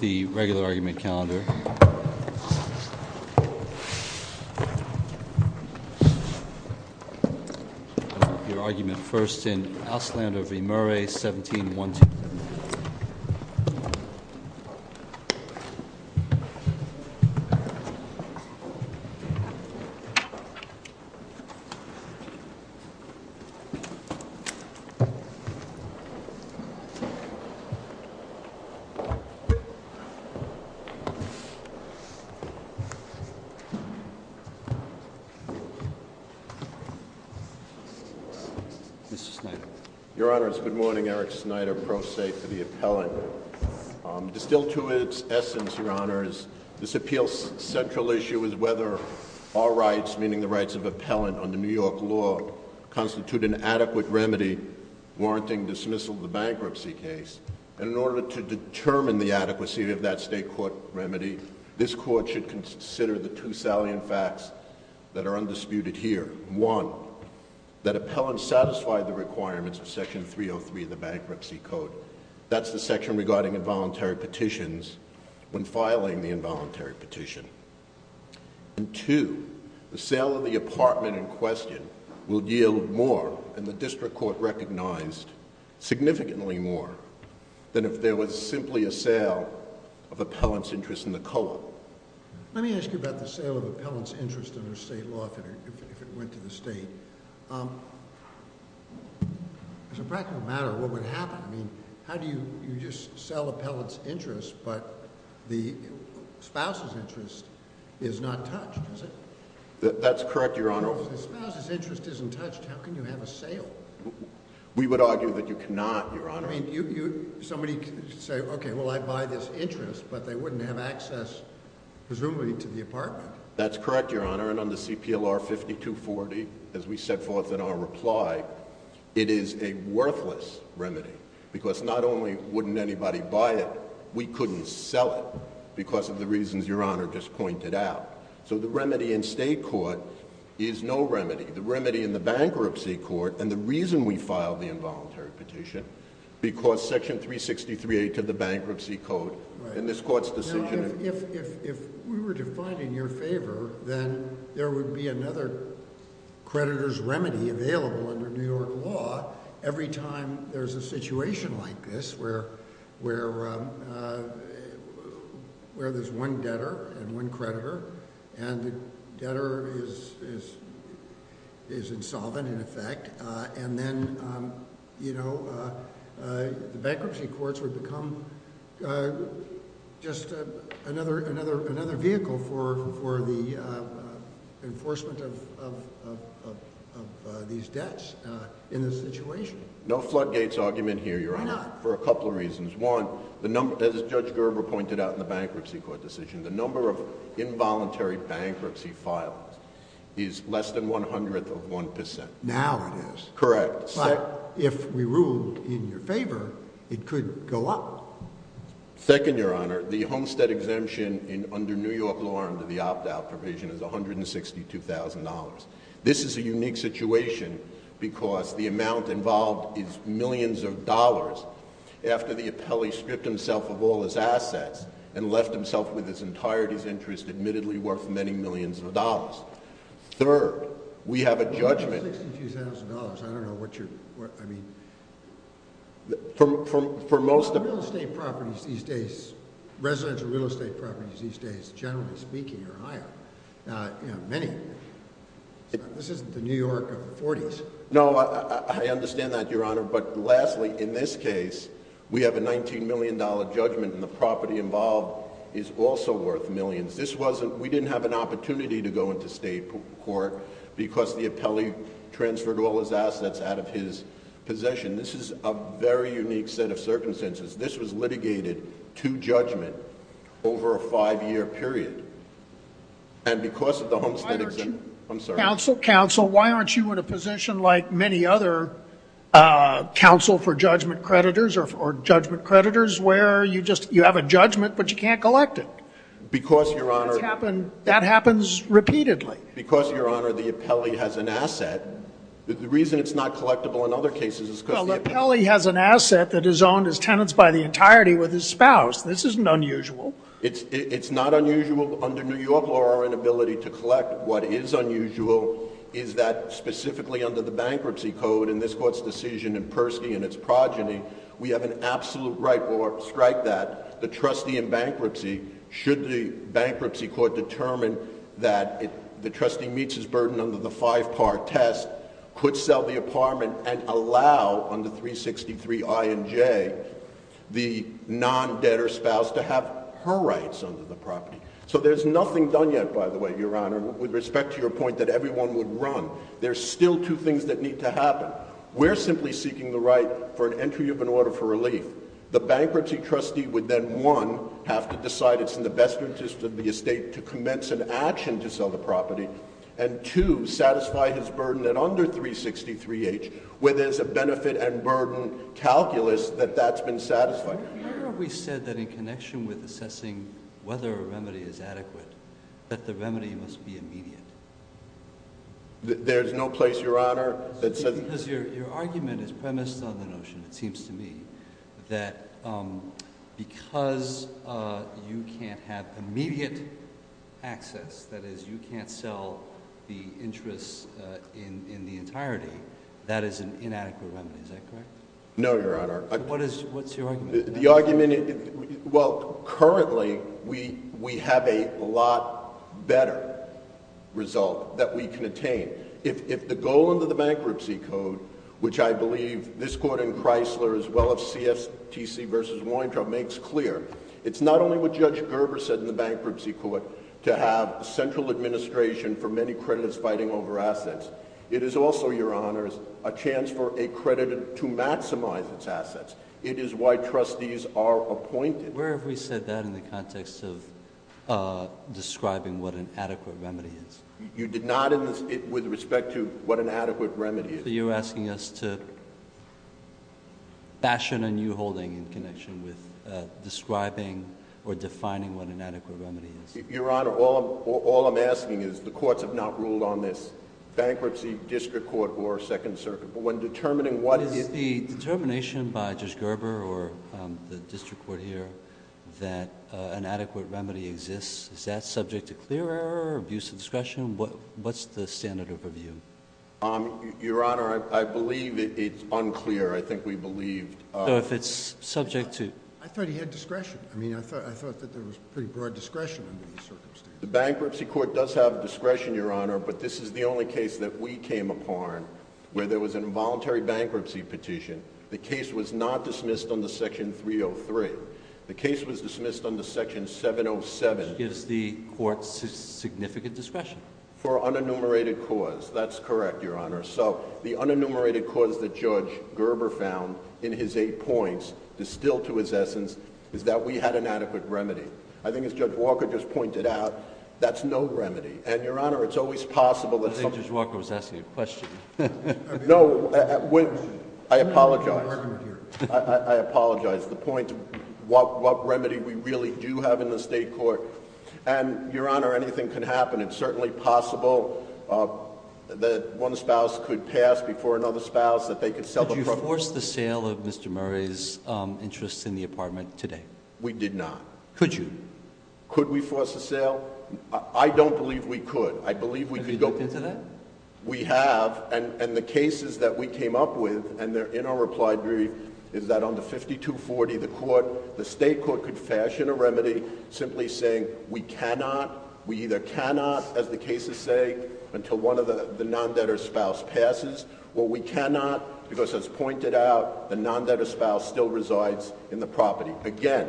The regular argument calendar. Your argument first in Auslander v. Murray, 1712. Mr. Snyder Your Honor, it's good morning. Eric Snyder, pro se for the appellant. Distilled to its essence, Your Honor, this appeal's central issue is whether our rights, meaning the rights of appellant under New York law, constitute an adequate remedy warranting dismissal of the bankruptcy case. And in order to determine the adequacy of that state court remedy, this court should consider the two salient facts that are undisputed here. One, that appellant satisfied the requirements of Section 303 of the Bankruptcy Code. That's the section regarding involuntary petitions when filing the involuntary petition. And two, the sale of the apartment in question will yield more, and the district court recognized, significantly more, than if there was simply a sale of appellant's interest in the co-op. Let me ask you about the sale of appellant's interest under state law, if it went to the state. As a practical matter, what would happen? I mean, how do you just sell appellant's interest, but the spouse's interest is not touched, is it? That's correct, Your Honor. If the spouse's interest isn't touched, how can you have a sale? We would argue that you cannot, Your Honor. Somebody could say, okay, well, I'd buy this interest, but they wouldn't have access, presumably, to the apartment. That's correct, Your Honor. And under CPLR 5240, as we set forth in our reply, it is a worthless remedy because not only wouldn't anybody buy it, we couldn't sell it because of the reasons Your Honor just pointed out. So the remedy in state court is no remedy. The remedy in the bankruptcy court, and the reason we filed the involuntary petition, because section 363A to the bankruptcy code in this court's decision. If we were to find in your favor, then there would be another creditor's remedy available under New York law every time there's a situation like this where there's one debtor and one creditor, and the debtor is insolvent, in effect, and then the bankruptcy courts would become just another vehicle for the enforcement of these debts in this situation. No floodgates argument here, Your Honor. Why not? For a couple of reasons. One, as Judge Gerber pointed out in the bankruptcy court decision, the number of involuntary bankruptcy files is less than one hundredth of one percent. Now it is. Correct. But if we ruled in your favor, it could go up. Second, Your Honor, the Homestead exemption under New York law under the opt-out provision is $162,000. This is a unique situation because the amount involved is millions of dollars after the appellee stripped himself of all his assets and left himself with his entirety's interest, admittedly worth many millions of dollars. Third, we have a judgment— $162,000, I don't know what you're—I mean, for most of— This isn't the New York of the 40s. No, I understand that, Your Honor. But lastly, in this case, we have a $19 million judgment and the property involved is also worth millions. This wasn't—we didn't have an opportunity to go into state court because the appellee transferred all his assets out of his possession. This is a very unique set of circumstances. This was litigated to judgment over a five-year period. And because of the Homestead exemption— Counsel, Counsel, why aren't you in a position like many other counsel for judgment creditors or judgment creditors where you just—you have a judgment but you can't collect it? Because, Your Honor— That happens repeatedly. Because, Your Honor, the appellee has an asset. The reason it's not collectible in other cases is because the— Well, the appellee has an asset that is owned as tenants by the entirety with his spouse. This isn't unusual. It's not unusual under New York law or inability to collect. What is unusual is that specifically under the bankruptcy code in this court's decision in Persky and its progeny, we have an absolute right or strike that the trustee in bankruptcy, should the bankruptcy court determine that the trustee meets his burden under the five-par test, could sell the apartment and allow under 363 I and J the non-debtor spouse to have her rights under the property. So there's nothing done yet, by the way, Your Honor, with respect to your point that everyone would run. There's still two things that need to happen. We're simply seeking the right for an entry of an order for relief. The bankruptcy trustee would then, one, have to decide it's in the best interest of the estate to commence an action to sell the property, and, two, satisfy his burden at under 363 H, where there's a benefit and burden calculus that that's been satisfied. Your Honor, we said that in connection with assessing whether a remedy is adequate, that the remedy must be immediate. There's no place, Your Honor, that says— Because your argument is premised on the notion, it seems to me, that because you can't have immediate access, that is, you can't sell the interest in the entirety, that is an inadequate remedy. Is that correct? No, Your Honor. What's your argument? The argument—well, currently, we have a lot better result that we can attain. If the goal under the Bankruptcy Code, which I believe this Court in Chrysler, as well as CSTC v. Weintraub, makes clear, it's not only what Judge Gerber said in the Bankruptcy Court to have central administration for many creditors fighting over assets. It is also, Your Honor, a chance for a creditor to maximize its assets. It is why trustees are appointed. Where have we said that in the context of describing what an adequate remedy is? You did not in this—with respect to what an adequate remedy is. So you're asking us to fashion a new holding in connection with describing or defining what an adequate remedy is. Your Honor, all I'm asking is, the courts have not ruled on this. Bankruptcy, district court, or Second Circuit. But when determining what is— Your Honor, I believe it's unclear. I think we believe— So if it's subject to— I thought he had discretion. I mean, I thought that there was pretty broad discretion under these circumstances. The Bankruptcy Court does have discretion, Your Honor, but this is the only case that we came upon where there was an involuntary bankruptcy petition. The case was not dismissed under Section 303. The case was dismissed under Section 707. Which gives the courts significant discretion. For unenumerated cause. That's correct, Your Honor. So, the unenumerated cause that Judge Gerber found in his eight points, distilled to his essence, is that we had an adequate remedy. I think as Judge Walker just pointed out, that's no remedy. And, Your Honor, it's always possible that— I think Judge Walker was asking a question. No, I apologize. I apologize. The point, what remedy we really do have in the state court, and, Your Honor, anything can happen. It's certainly possible that one spouse could pass before another spouse, that they could sell the property— Could you force the sale of Mr. Murray's interest in the apartment today? We did not. Could you? Could we force a sale? I don't believe we could. I believe we could go— Have you looked into that? We have. And the cases that we came up with, and they're in our reply brief, is that under 5240, the state court could fashion a remedy simply saying, we cannot, we either cannot, as the cases say, until one of the non-debtor spouse passes, or we cannot, because as pointed out, the non-debtor spouse still resides in the property. Again,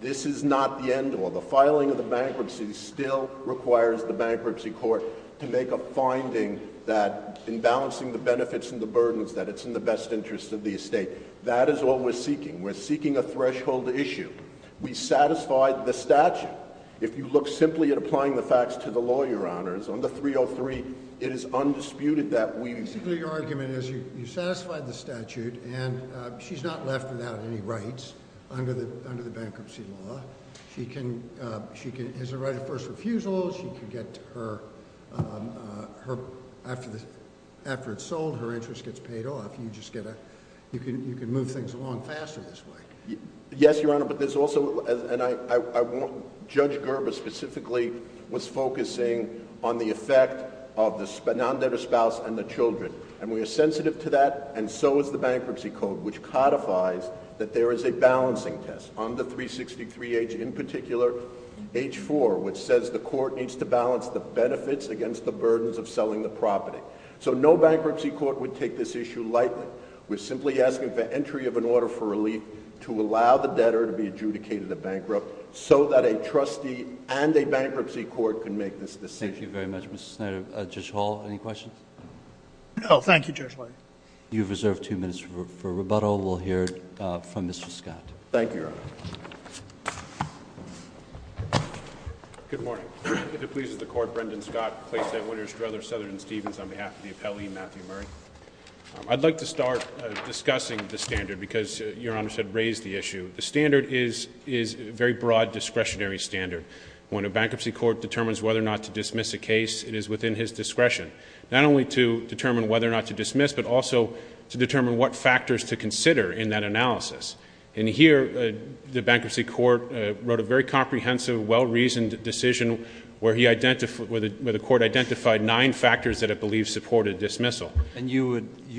this is not the end all. The filing of the bankruptcy still requires the bankruptcy court to make a finding that, in balancing the benefits and the burdens, that it's in the best interest of the estate. That is what we're seeking. We're seeking a threshold issue. We satisfied the statute. If you look simply at applying the facts to the law, Your Honors, under 303, it is undisputed that we— Basically, your argument is you satisfied the statute, and she's not left without any rights under the bankruptcy law. She has a right of first refusal. She can get her—after it's sold, her interest gets paid off. You just get a—you can move things along faster this way. Yes, Your Honor, but there's also—and I won't—Judge Gerber specifically was focusing on the effect of the non-debtor spouse and the children, and we are sensitive to that, and so is the bankruptcy code, which codifies that there is a balancing test on the 363H, in particular, H4, which says the court needs to balance the benefits against the burdens of selling the property. So no bankruptcy court would take this issue lightly. We're simply asking for entry of an order for relief to allow the debtor to be adjudicated a bankrupt so that a trustee and a bankruptcy court can make this decision. Thank you very much, Mr. Snyder. Judge Hall, any questions? No, thank you, Judge White. You have reserved two minutes for rebuttal. We'll hear from Mr. Scott. Thank you, Your Honor. Good morning. If it pleases the Court, Brendan Scott, Clay St. Winters, Struthers, Southern, and Stevens, on behalf of the appellee, Matthew Murray. I'd like to start discussing the standard, because Your Honor said raise the issue. The standard is a very broad discretionary standard. When a bankruptcy court determines whether or not to dismiss a case, it is within his discretion, not only to determine whether or not to dismiss, but also to determine what factors to consider in that analysis. And here, the bankruptcy court wrote a very comprehensive, well-reasoned decision, where the Court identified nine factors that it believed supported dismissal. And you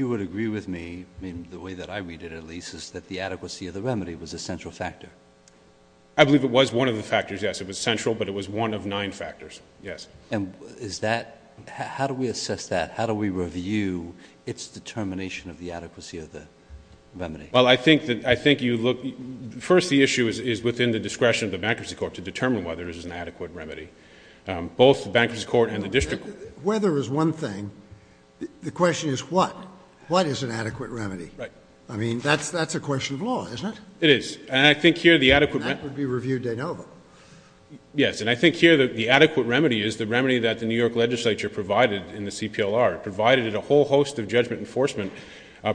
would agree with me, the way that I read it, at least, is that the adequacy of the remedy was a central factor. I believe it was one of the factors, yes. It was central, but it was one of nine factors, yes. And is that, how do we assess that? How do we review its determination of the adequacy of the remedy? Well, I think you look, first, the issue is within the discretion of the bankruptcy court to determine whether it is an adequate remedy. Both the bankruptcy court and the district court. Whether is one thing. The question is what? What is an adequate remedy? Right. I mean, that's a question of law, isn't it? It is. And I think here, the adequate remedy. And that would be review de novo. Yes. And I think here, the adequate remedy is the remedy that the New York legislature provided in the CPLR. It provided it a whole host of judgment enforcement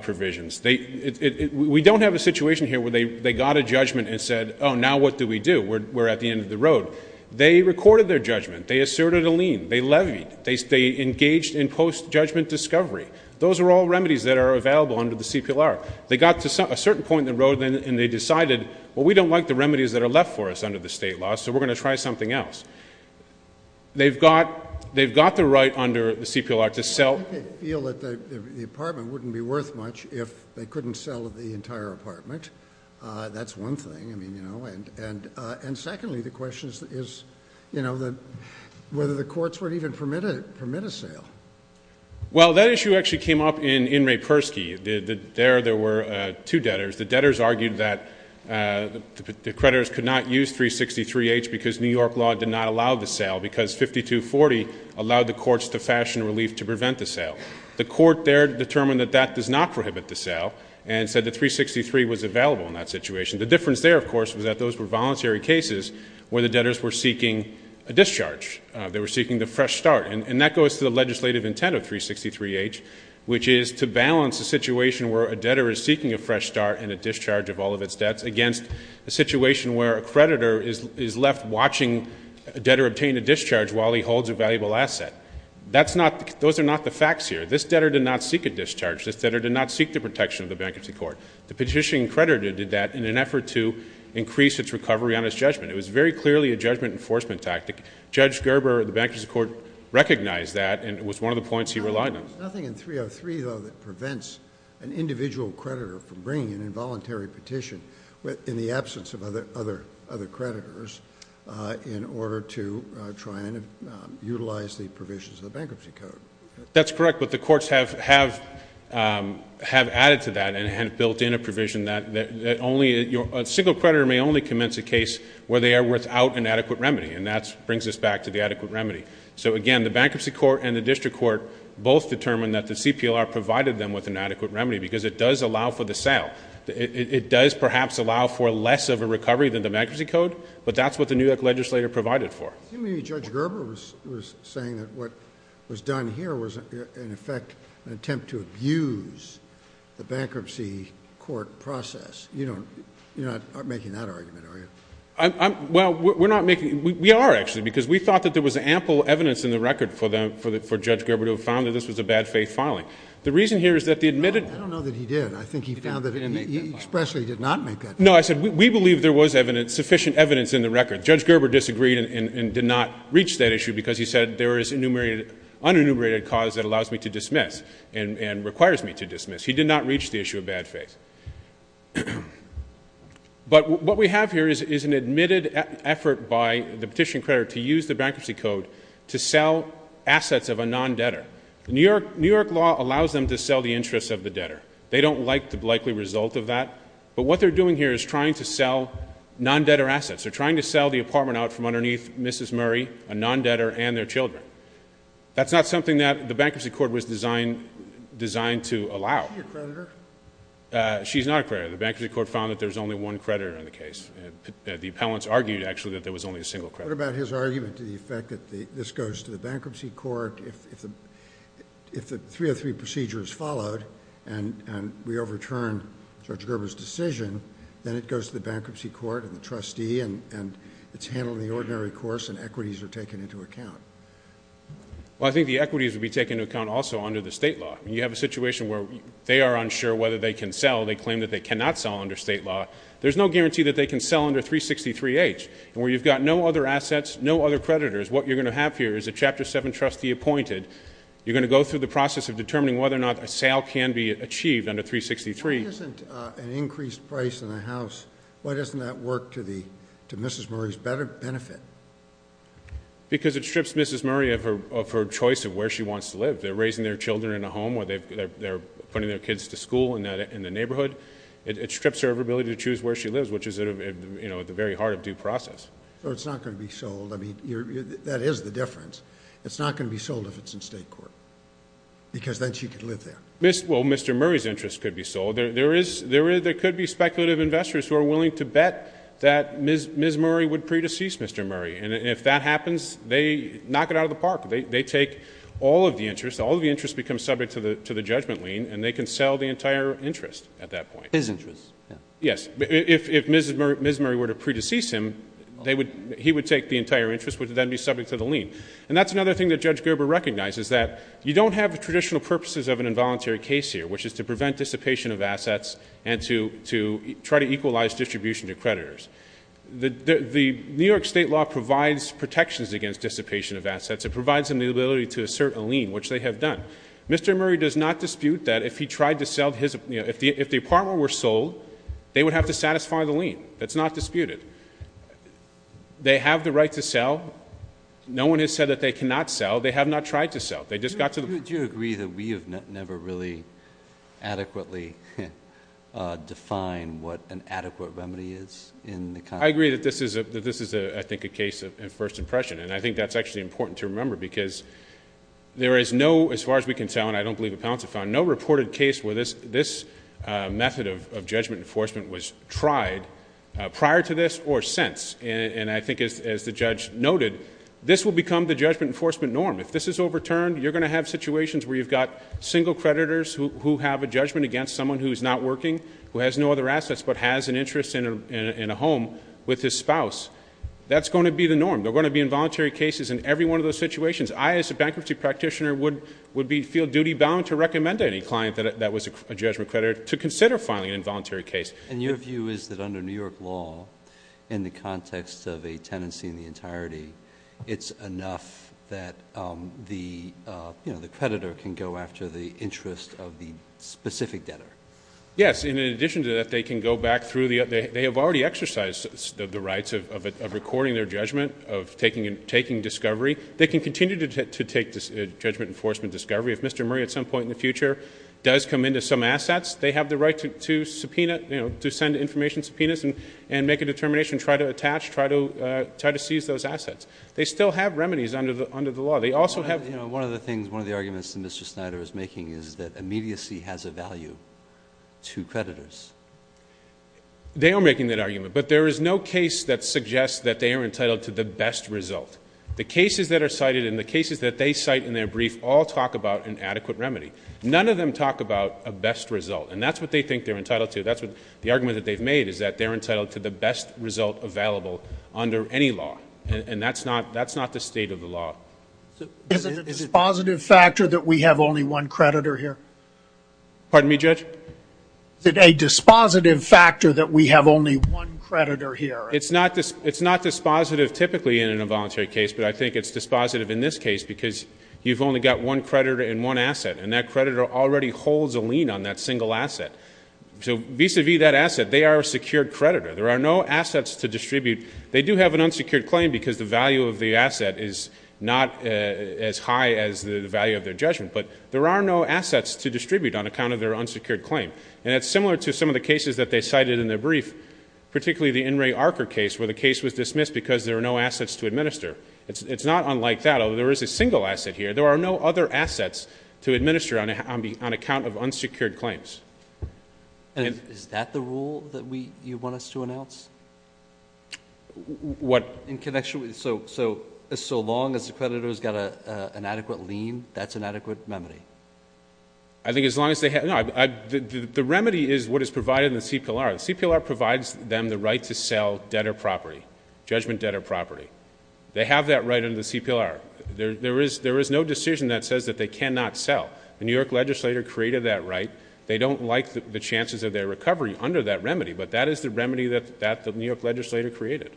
provisions. We don't have a situation here where they got a judgment and said, oh, now what do we do? We're at the end of the road. They recorded their judgment. They asserted a lien. They levied. They engaged in post-judgment discovery. Those are all remedies that are available under the CPLR. They got to a certain point in the road, and they decided, well, we don't like the remedies that are left for us under the state law, so we're going to try something else. They've got the right under the CPLR to sell. I feel that the apartment wouldn't be worth much if they couldn't sell the entire apartment. That's one thing. I mean, you know, and secondly, the question is, you know, whether the courts would even permit a sale. Well, that issue actually came up in Ray Persky. There were two debtors. The debtors argued that the creditors could not use 363-H because New York law did not allow the sale because 5240 allowed the courts to fashion relief to prevent the sale. The court there determined that that does not prohibit the sale and said that 363 was available in that situation. The difference there, of course, was that those were voluntary cases where the debtors were seeking a discharge. They were seeking the fresh start, and that goes to the legislative intent of 363-H, which is to balance a situation where a debtor is seeking a fresh start and a discharge of all of its debts against a situation where a creditor is left watching a debtor obtain a discharge while he holds a valuable asset. Those are not the facts here. This debtor did not seek a discharge. This debtor did not seek the protection of the bankruptcy court. The petition creditor did that in an effort to increase its recovery on his judgment. It was very clearly a judgment enforcement tactic. Judge Gerber of the Bankruptcy Court recognized that, and it was one of the points he relied on. There's nothing in 303, though, that prevents an individual creditor from bringing an involuntary petition in the absence of other creditors in order to try and utilize the provisions of the Bankruptcy Code. That's correct, but the courts have added to that and have built in a provision that a single creditor may only commence a case where they are without an adequate remedy, and that brings us back to the adequate remedy. So, again, the Bankruptcy Court and the District Court both determined that the CPLR provided them with an adequate remedy because it does allow for the sale. It does perhaps allow for less of a recovery than the Bankruptcy Code, but that's what the New York Legislature provided for. You mean Judge Gerber was saying that what was done here was, in effect, an attempt to abuse the Bankruptcy Court process. You're not making that argument, are you? Well, we're not making it. We are, actually, because we thought that there was ample evidence in the record for Judge Gerber to have found that this was a bad faith filing. The reason here is that the admitted— No, I don't know that he did. I think he found that he expressly did not make that claim. No, I said we believe there was sufficient evidence in the record. Judge Gerber disagreed and did not reach that issue because he said there is an unenumerated cause that allows me to dismiss and requires me to dismiss. He did not reach the issue of bad faith. But what we have here is an admitted effort by the petition creditor to use the Bankruptcy Code to sell assets of a non-debtor. New York law allows them to sell the interests of the debtor. They don't like the likely result of that. But what they're doing here is trying to sell non-debtor assets. They're trying to sell the apartment out from underneath Mrs. Murray, a non-debtor, and their children. That's not something that the Bankruptcy Court was designed to allow. Is she a creditor? She's not a creditor. The Bankruptcy Court found that there's only one creditor in the case. The appellants argued, actually, that there was only a single creditor. What about his argument to the effect that this goes to the Bankruptcy Court? If the 303 procedure is followed and we overturn Judge Gerber's decision, then it goes to the Bankruptcy Court and the trustee, and it's handled in the ordinary course, and equities are taken into account. Well, I think the equities would be taken into account also under the state law. You have a situation where they are unsure whether they can sell. They claim that they cannot sell under state law. There's no guarantee that they can sell under 363H. And where you've got no other assets, no other creditors, what you're going to have here is a Chapter 7 trustee appointed. You're going to go through the process of determining whether or not a sale can be achieved under 363. Why isn't an increased price on a house, why doesn't that work to Mrs. Murray's benefit? Because it strips Mrs. Murray of her choice of where she wants to live. If they're raising their children in a home or they're putting their kids to school in the neighborhood, it strips her of her ability to choose where she lives, which is at the very heart of due process. So it's not going to be sold. I mean, that is the difference. It's not going to be sold if it's in state court because then she could live there. Well, Mr. Murray's interest could be sold. There could be speculative investors who are willing to bet that Ms. Murray would pre-decease Mr. Murray. And if that happens, they knock it out of the park. They take all of the interest, all of the interest becomes subject to the judgment lien, and they can sell the entire interest at that point. His interest. Yes. If Ms. Murray were to pre-decease him, he would take the entire interest, which would then be subject to the lien. And that's another thing that Judge Gerber recognizes, that you don't have the traditional purposes of an involuntary case here, which is to prevent dissipation of assets and to try to equalize distribution to creditors. The New York State law provides protections against dissipation of assets. It provides them the ability to assert a lien, which they have done. Mr. Murray does not dispute that if the apartment were sold, they would have to satisfy the lien. That's not disputed. They have the right to sell. No one has said that they cannot sell. They have not tried to sell. Do you agree that we have never really adequately defined what an adequate remedy is in the context? I agree that this is, I think, a case of first impression, and I think that's actually important to remember because there is no, as far as we can tell, and I don't believe appellants have found, no reported case where this method of judgment enforcement was tried prior to this or since. And I think, as the judge noted, this will become the judgment enforcement norm. If this is overturned, you're going to have situations where you've got single creditors who have a judgment against someone who is not working, who has no other assets, but has an interest in a home with his spouse. That's going to be the norm. There are going to be involuntary cases in every one of those situations. I, as a bankruptcy practitioner, would feel duty bound to recommend to any client that was a judgment creditor to consider filing an involuntary case. And your view is that under New York law, in the context of a tenancy in the entirety, it's enough that the creditor can go after the interest of the specific debtor? Yes, and in addition to that, they can go back through the other. They have already exercised the rights of recording their judgment, of taking discovery. They can continue to take judgment enforcement discovery. If Mr. Murray at some point in the future does come into some assets, they have the right to send information subpoenas and make a determination, try to attach, try to seize those assets. They still have remedies under the law. One of the arguments that Mr. Snyder is making is that immediacy has a value to creditors. They are making that argument, but there is no case that suggests that they are entitled to the best result. The cases that are cited and the cases that they cite in their brief all talk about an adequate remedy. None of them talk about a best result, and that's what they think they're entitled to. The argument that they've made is that they're entitled to the best result available under any law, and that's not the state of the law. Is it a dispositive factor that we have only one creditor here? Pardon me, Judge? Is it a dispositive factor that we have only one creditor here? It's not dispositive typically in a voluntary case, but I think it's dispositive in this case because you've only got one creditor and one asset, and that creditor already holds a lien on that single asset. So vis-a-vis that asset, they are a secured creditor. There are no assets to distribute. They do have an unsecured claim because the value of the asset is not as high as the value of their judgment, but there are no assets to distribute on account of their unsecured claim. And it's similar to some of the cases that they cited in their brief, particularly the In re Archer case where the case was dismissed because there were no assets to administer. It's not unlike that, although there is a single asset here. There are no other assets to administer on account of unsecured claims. And is that the rule that you want us to announce? What? So as long as the creditor has got an adequate lien, that's an adequate remedy? I think as long as they have—no, the remedy is what is provided in the CPLR. The CPLR provides them the right to sell debtor property, judgment debtor property. They have that right under the CPLR. There is no decision that says that they cannot sell. The New York legislator created that right. They don't like the chances of their recovery under that remedy, but that is the remedy that the New York legislator created.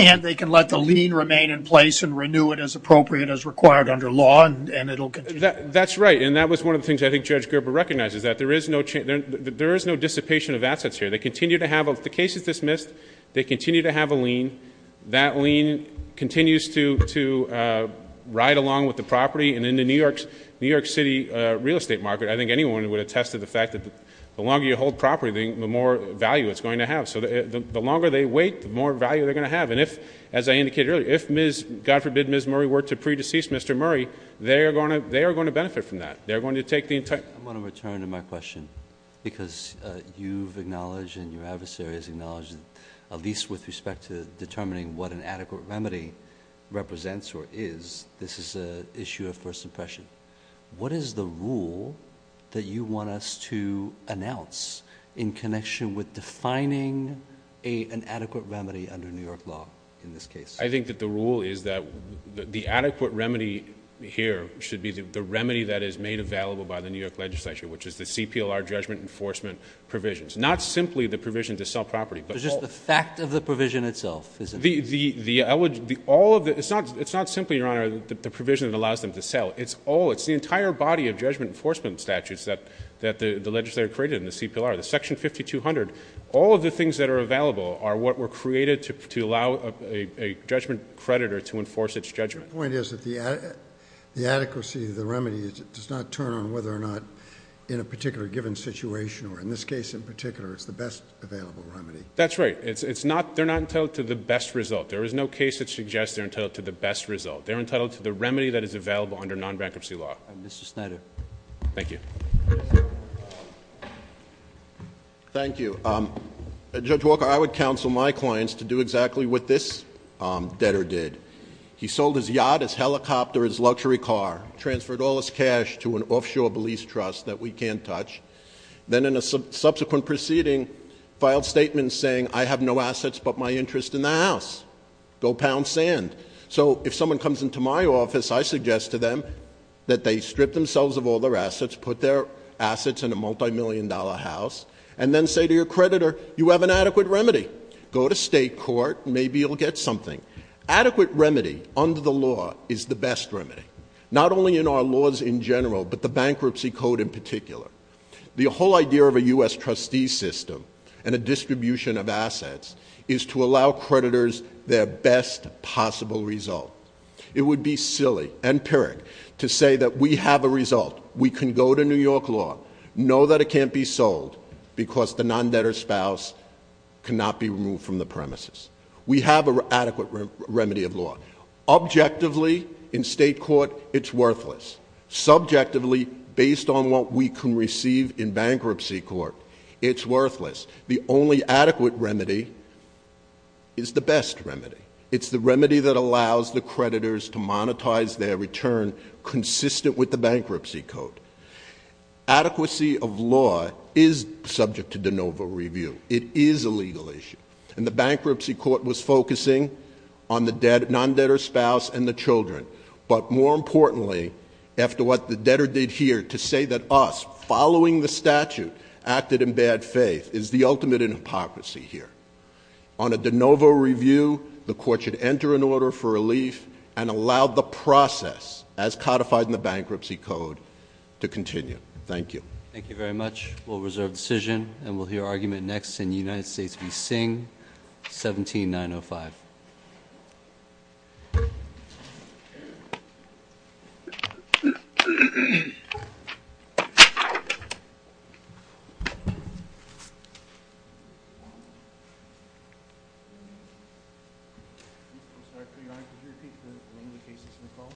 And they can let the lien remain in place and renew it as appropriate as required under law, and it will continue? That's right. And that was one of the things I think Judge Gerber recognizes, that there is no dissipation of assets here. They continue to have—if the case is dismissed, they continue to have a lien. That lien continues to ride along with the property. And in the New York City real estate market, I think anyone would attest to the fact that the longer you hold property, the more value it's going to have. So the longer they wait, the more value they're going to have. And if, as I indicated earlier, if, God forbid, Ms. Murray were to pre-decease Mr. Murray, they are going to benefit from that. They are going to take the entire— I want to return to my question because you've acknowledged and your adversary has acknowledged, at least with respect to determining what an adequate remedy represents or is, this is an issue of first impression. What is the rule that you want us to announce in connection with defining an adequate remedy under New York law in this case? I think that the rule is that the adequate remedy here should be the remedy that is made available by the New York legislature, which is the CPLR judgment enforcement provisions. Not simply the provision to sell property, but all— But just the fact of the provision itself, isn't it? It's not simply, Your Honor, the provision that allows them to sell. It's the entire body of judgment enforcement statutes that the legislature created in the CPLR. The Section 5200, all of the things that are available are what were created to allow a judgment creditor to enforce its judgment. My point is that the adequacy of the remedy does not turn on whether or not in a particular given situation, or in this case in particular, it's the best available remedy. That's right. They're not entitled to the best result. There is no case that suggests they're entitled to the best result. They're entitled to the remedy that is available under non-bankruptcy law. Mr. Snyder. Thank you. Thank you. Judge Walker, I would counsel my clients to do exactly what this debtor did. He sold his yacht, his helicopter, his luxury car, transferred all his cash to an offshore police trust that we can't touch, then in a subsequent proceeding, filed statements saying, I have no assets but my interest in the house. Go pound sand. So if someone comes into my office, I suggest to them that they strip themselves of all their assets, put their assets in a multi-million dollar house, and then say to your creditor, you have an adequate remedy. Go to state court, maybe you'll get something. Adequate remedy under the law is the best remedy. Not only in our laws in general, but the bankruptcy code in particular. The whole idea of a U.S. trustee system and a distribution of assets is to allow creditors their best possible result. It would be silly and pyrrhic to say that we have a result, we can go to New York law, know that it can't be sold because the non-debtor spouse cannot be removed from the premises. We have an adequate remedy of law. Objectively, in state court, it's worthless. Subjectively, based on what we can receive in bankruptcy court, it's worthless. The only adequate remedy is the best remedy. It's the remedy that allows the creditors to monetize their return consistent with the bankruptcy code. Adequacy of law is subject to de novo review. It is a legal issue. And the bankruptcy court was focusing on the non-debtor spouse and the children. But more importantly, after what the debtor did here to say that us, following the statute, acted in bad faith is the ultimate in hypocrisy here. On a de novo review, the court should enter an order for relief and allow the process as codified in the bankruptcy code to continue. Thank you. Thank you very much. We'll reserve decision and we'll hear argument next in United States v. Singh, 17905.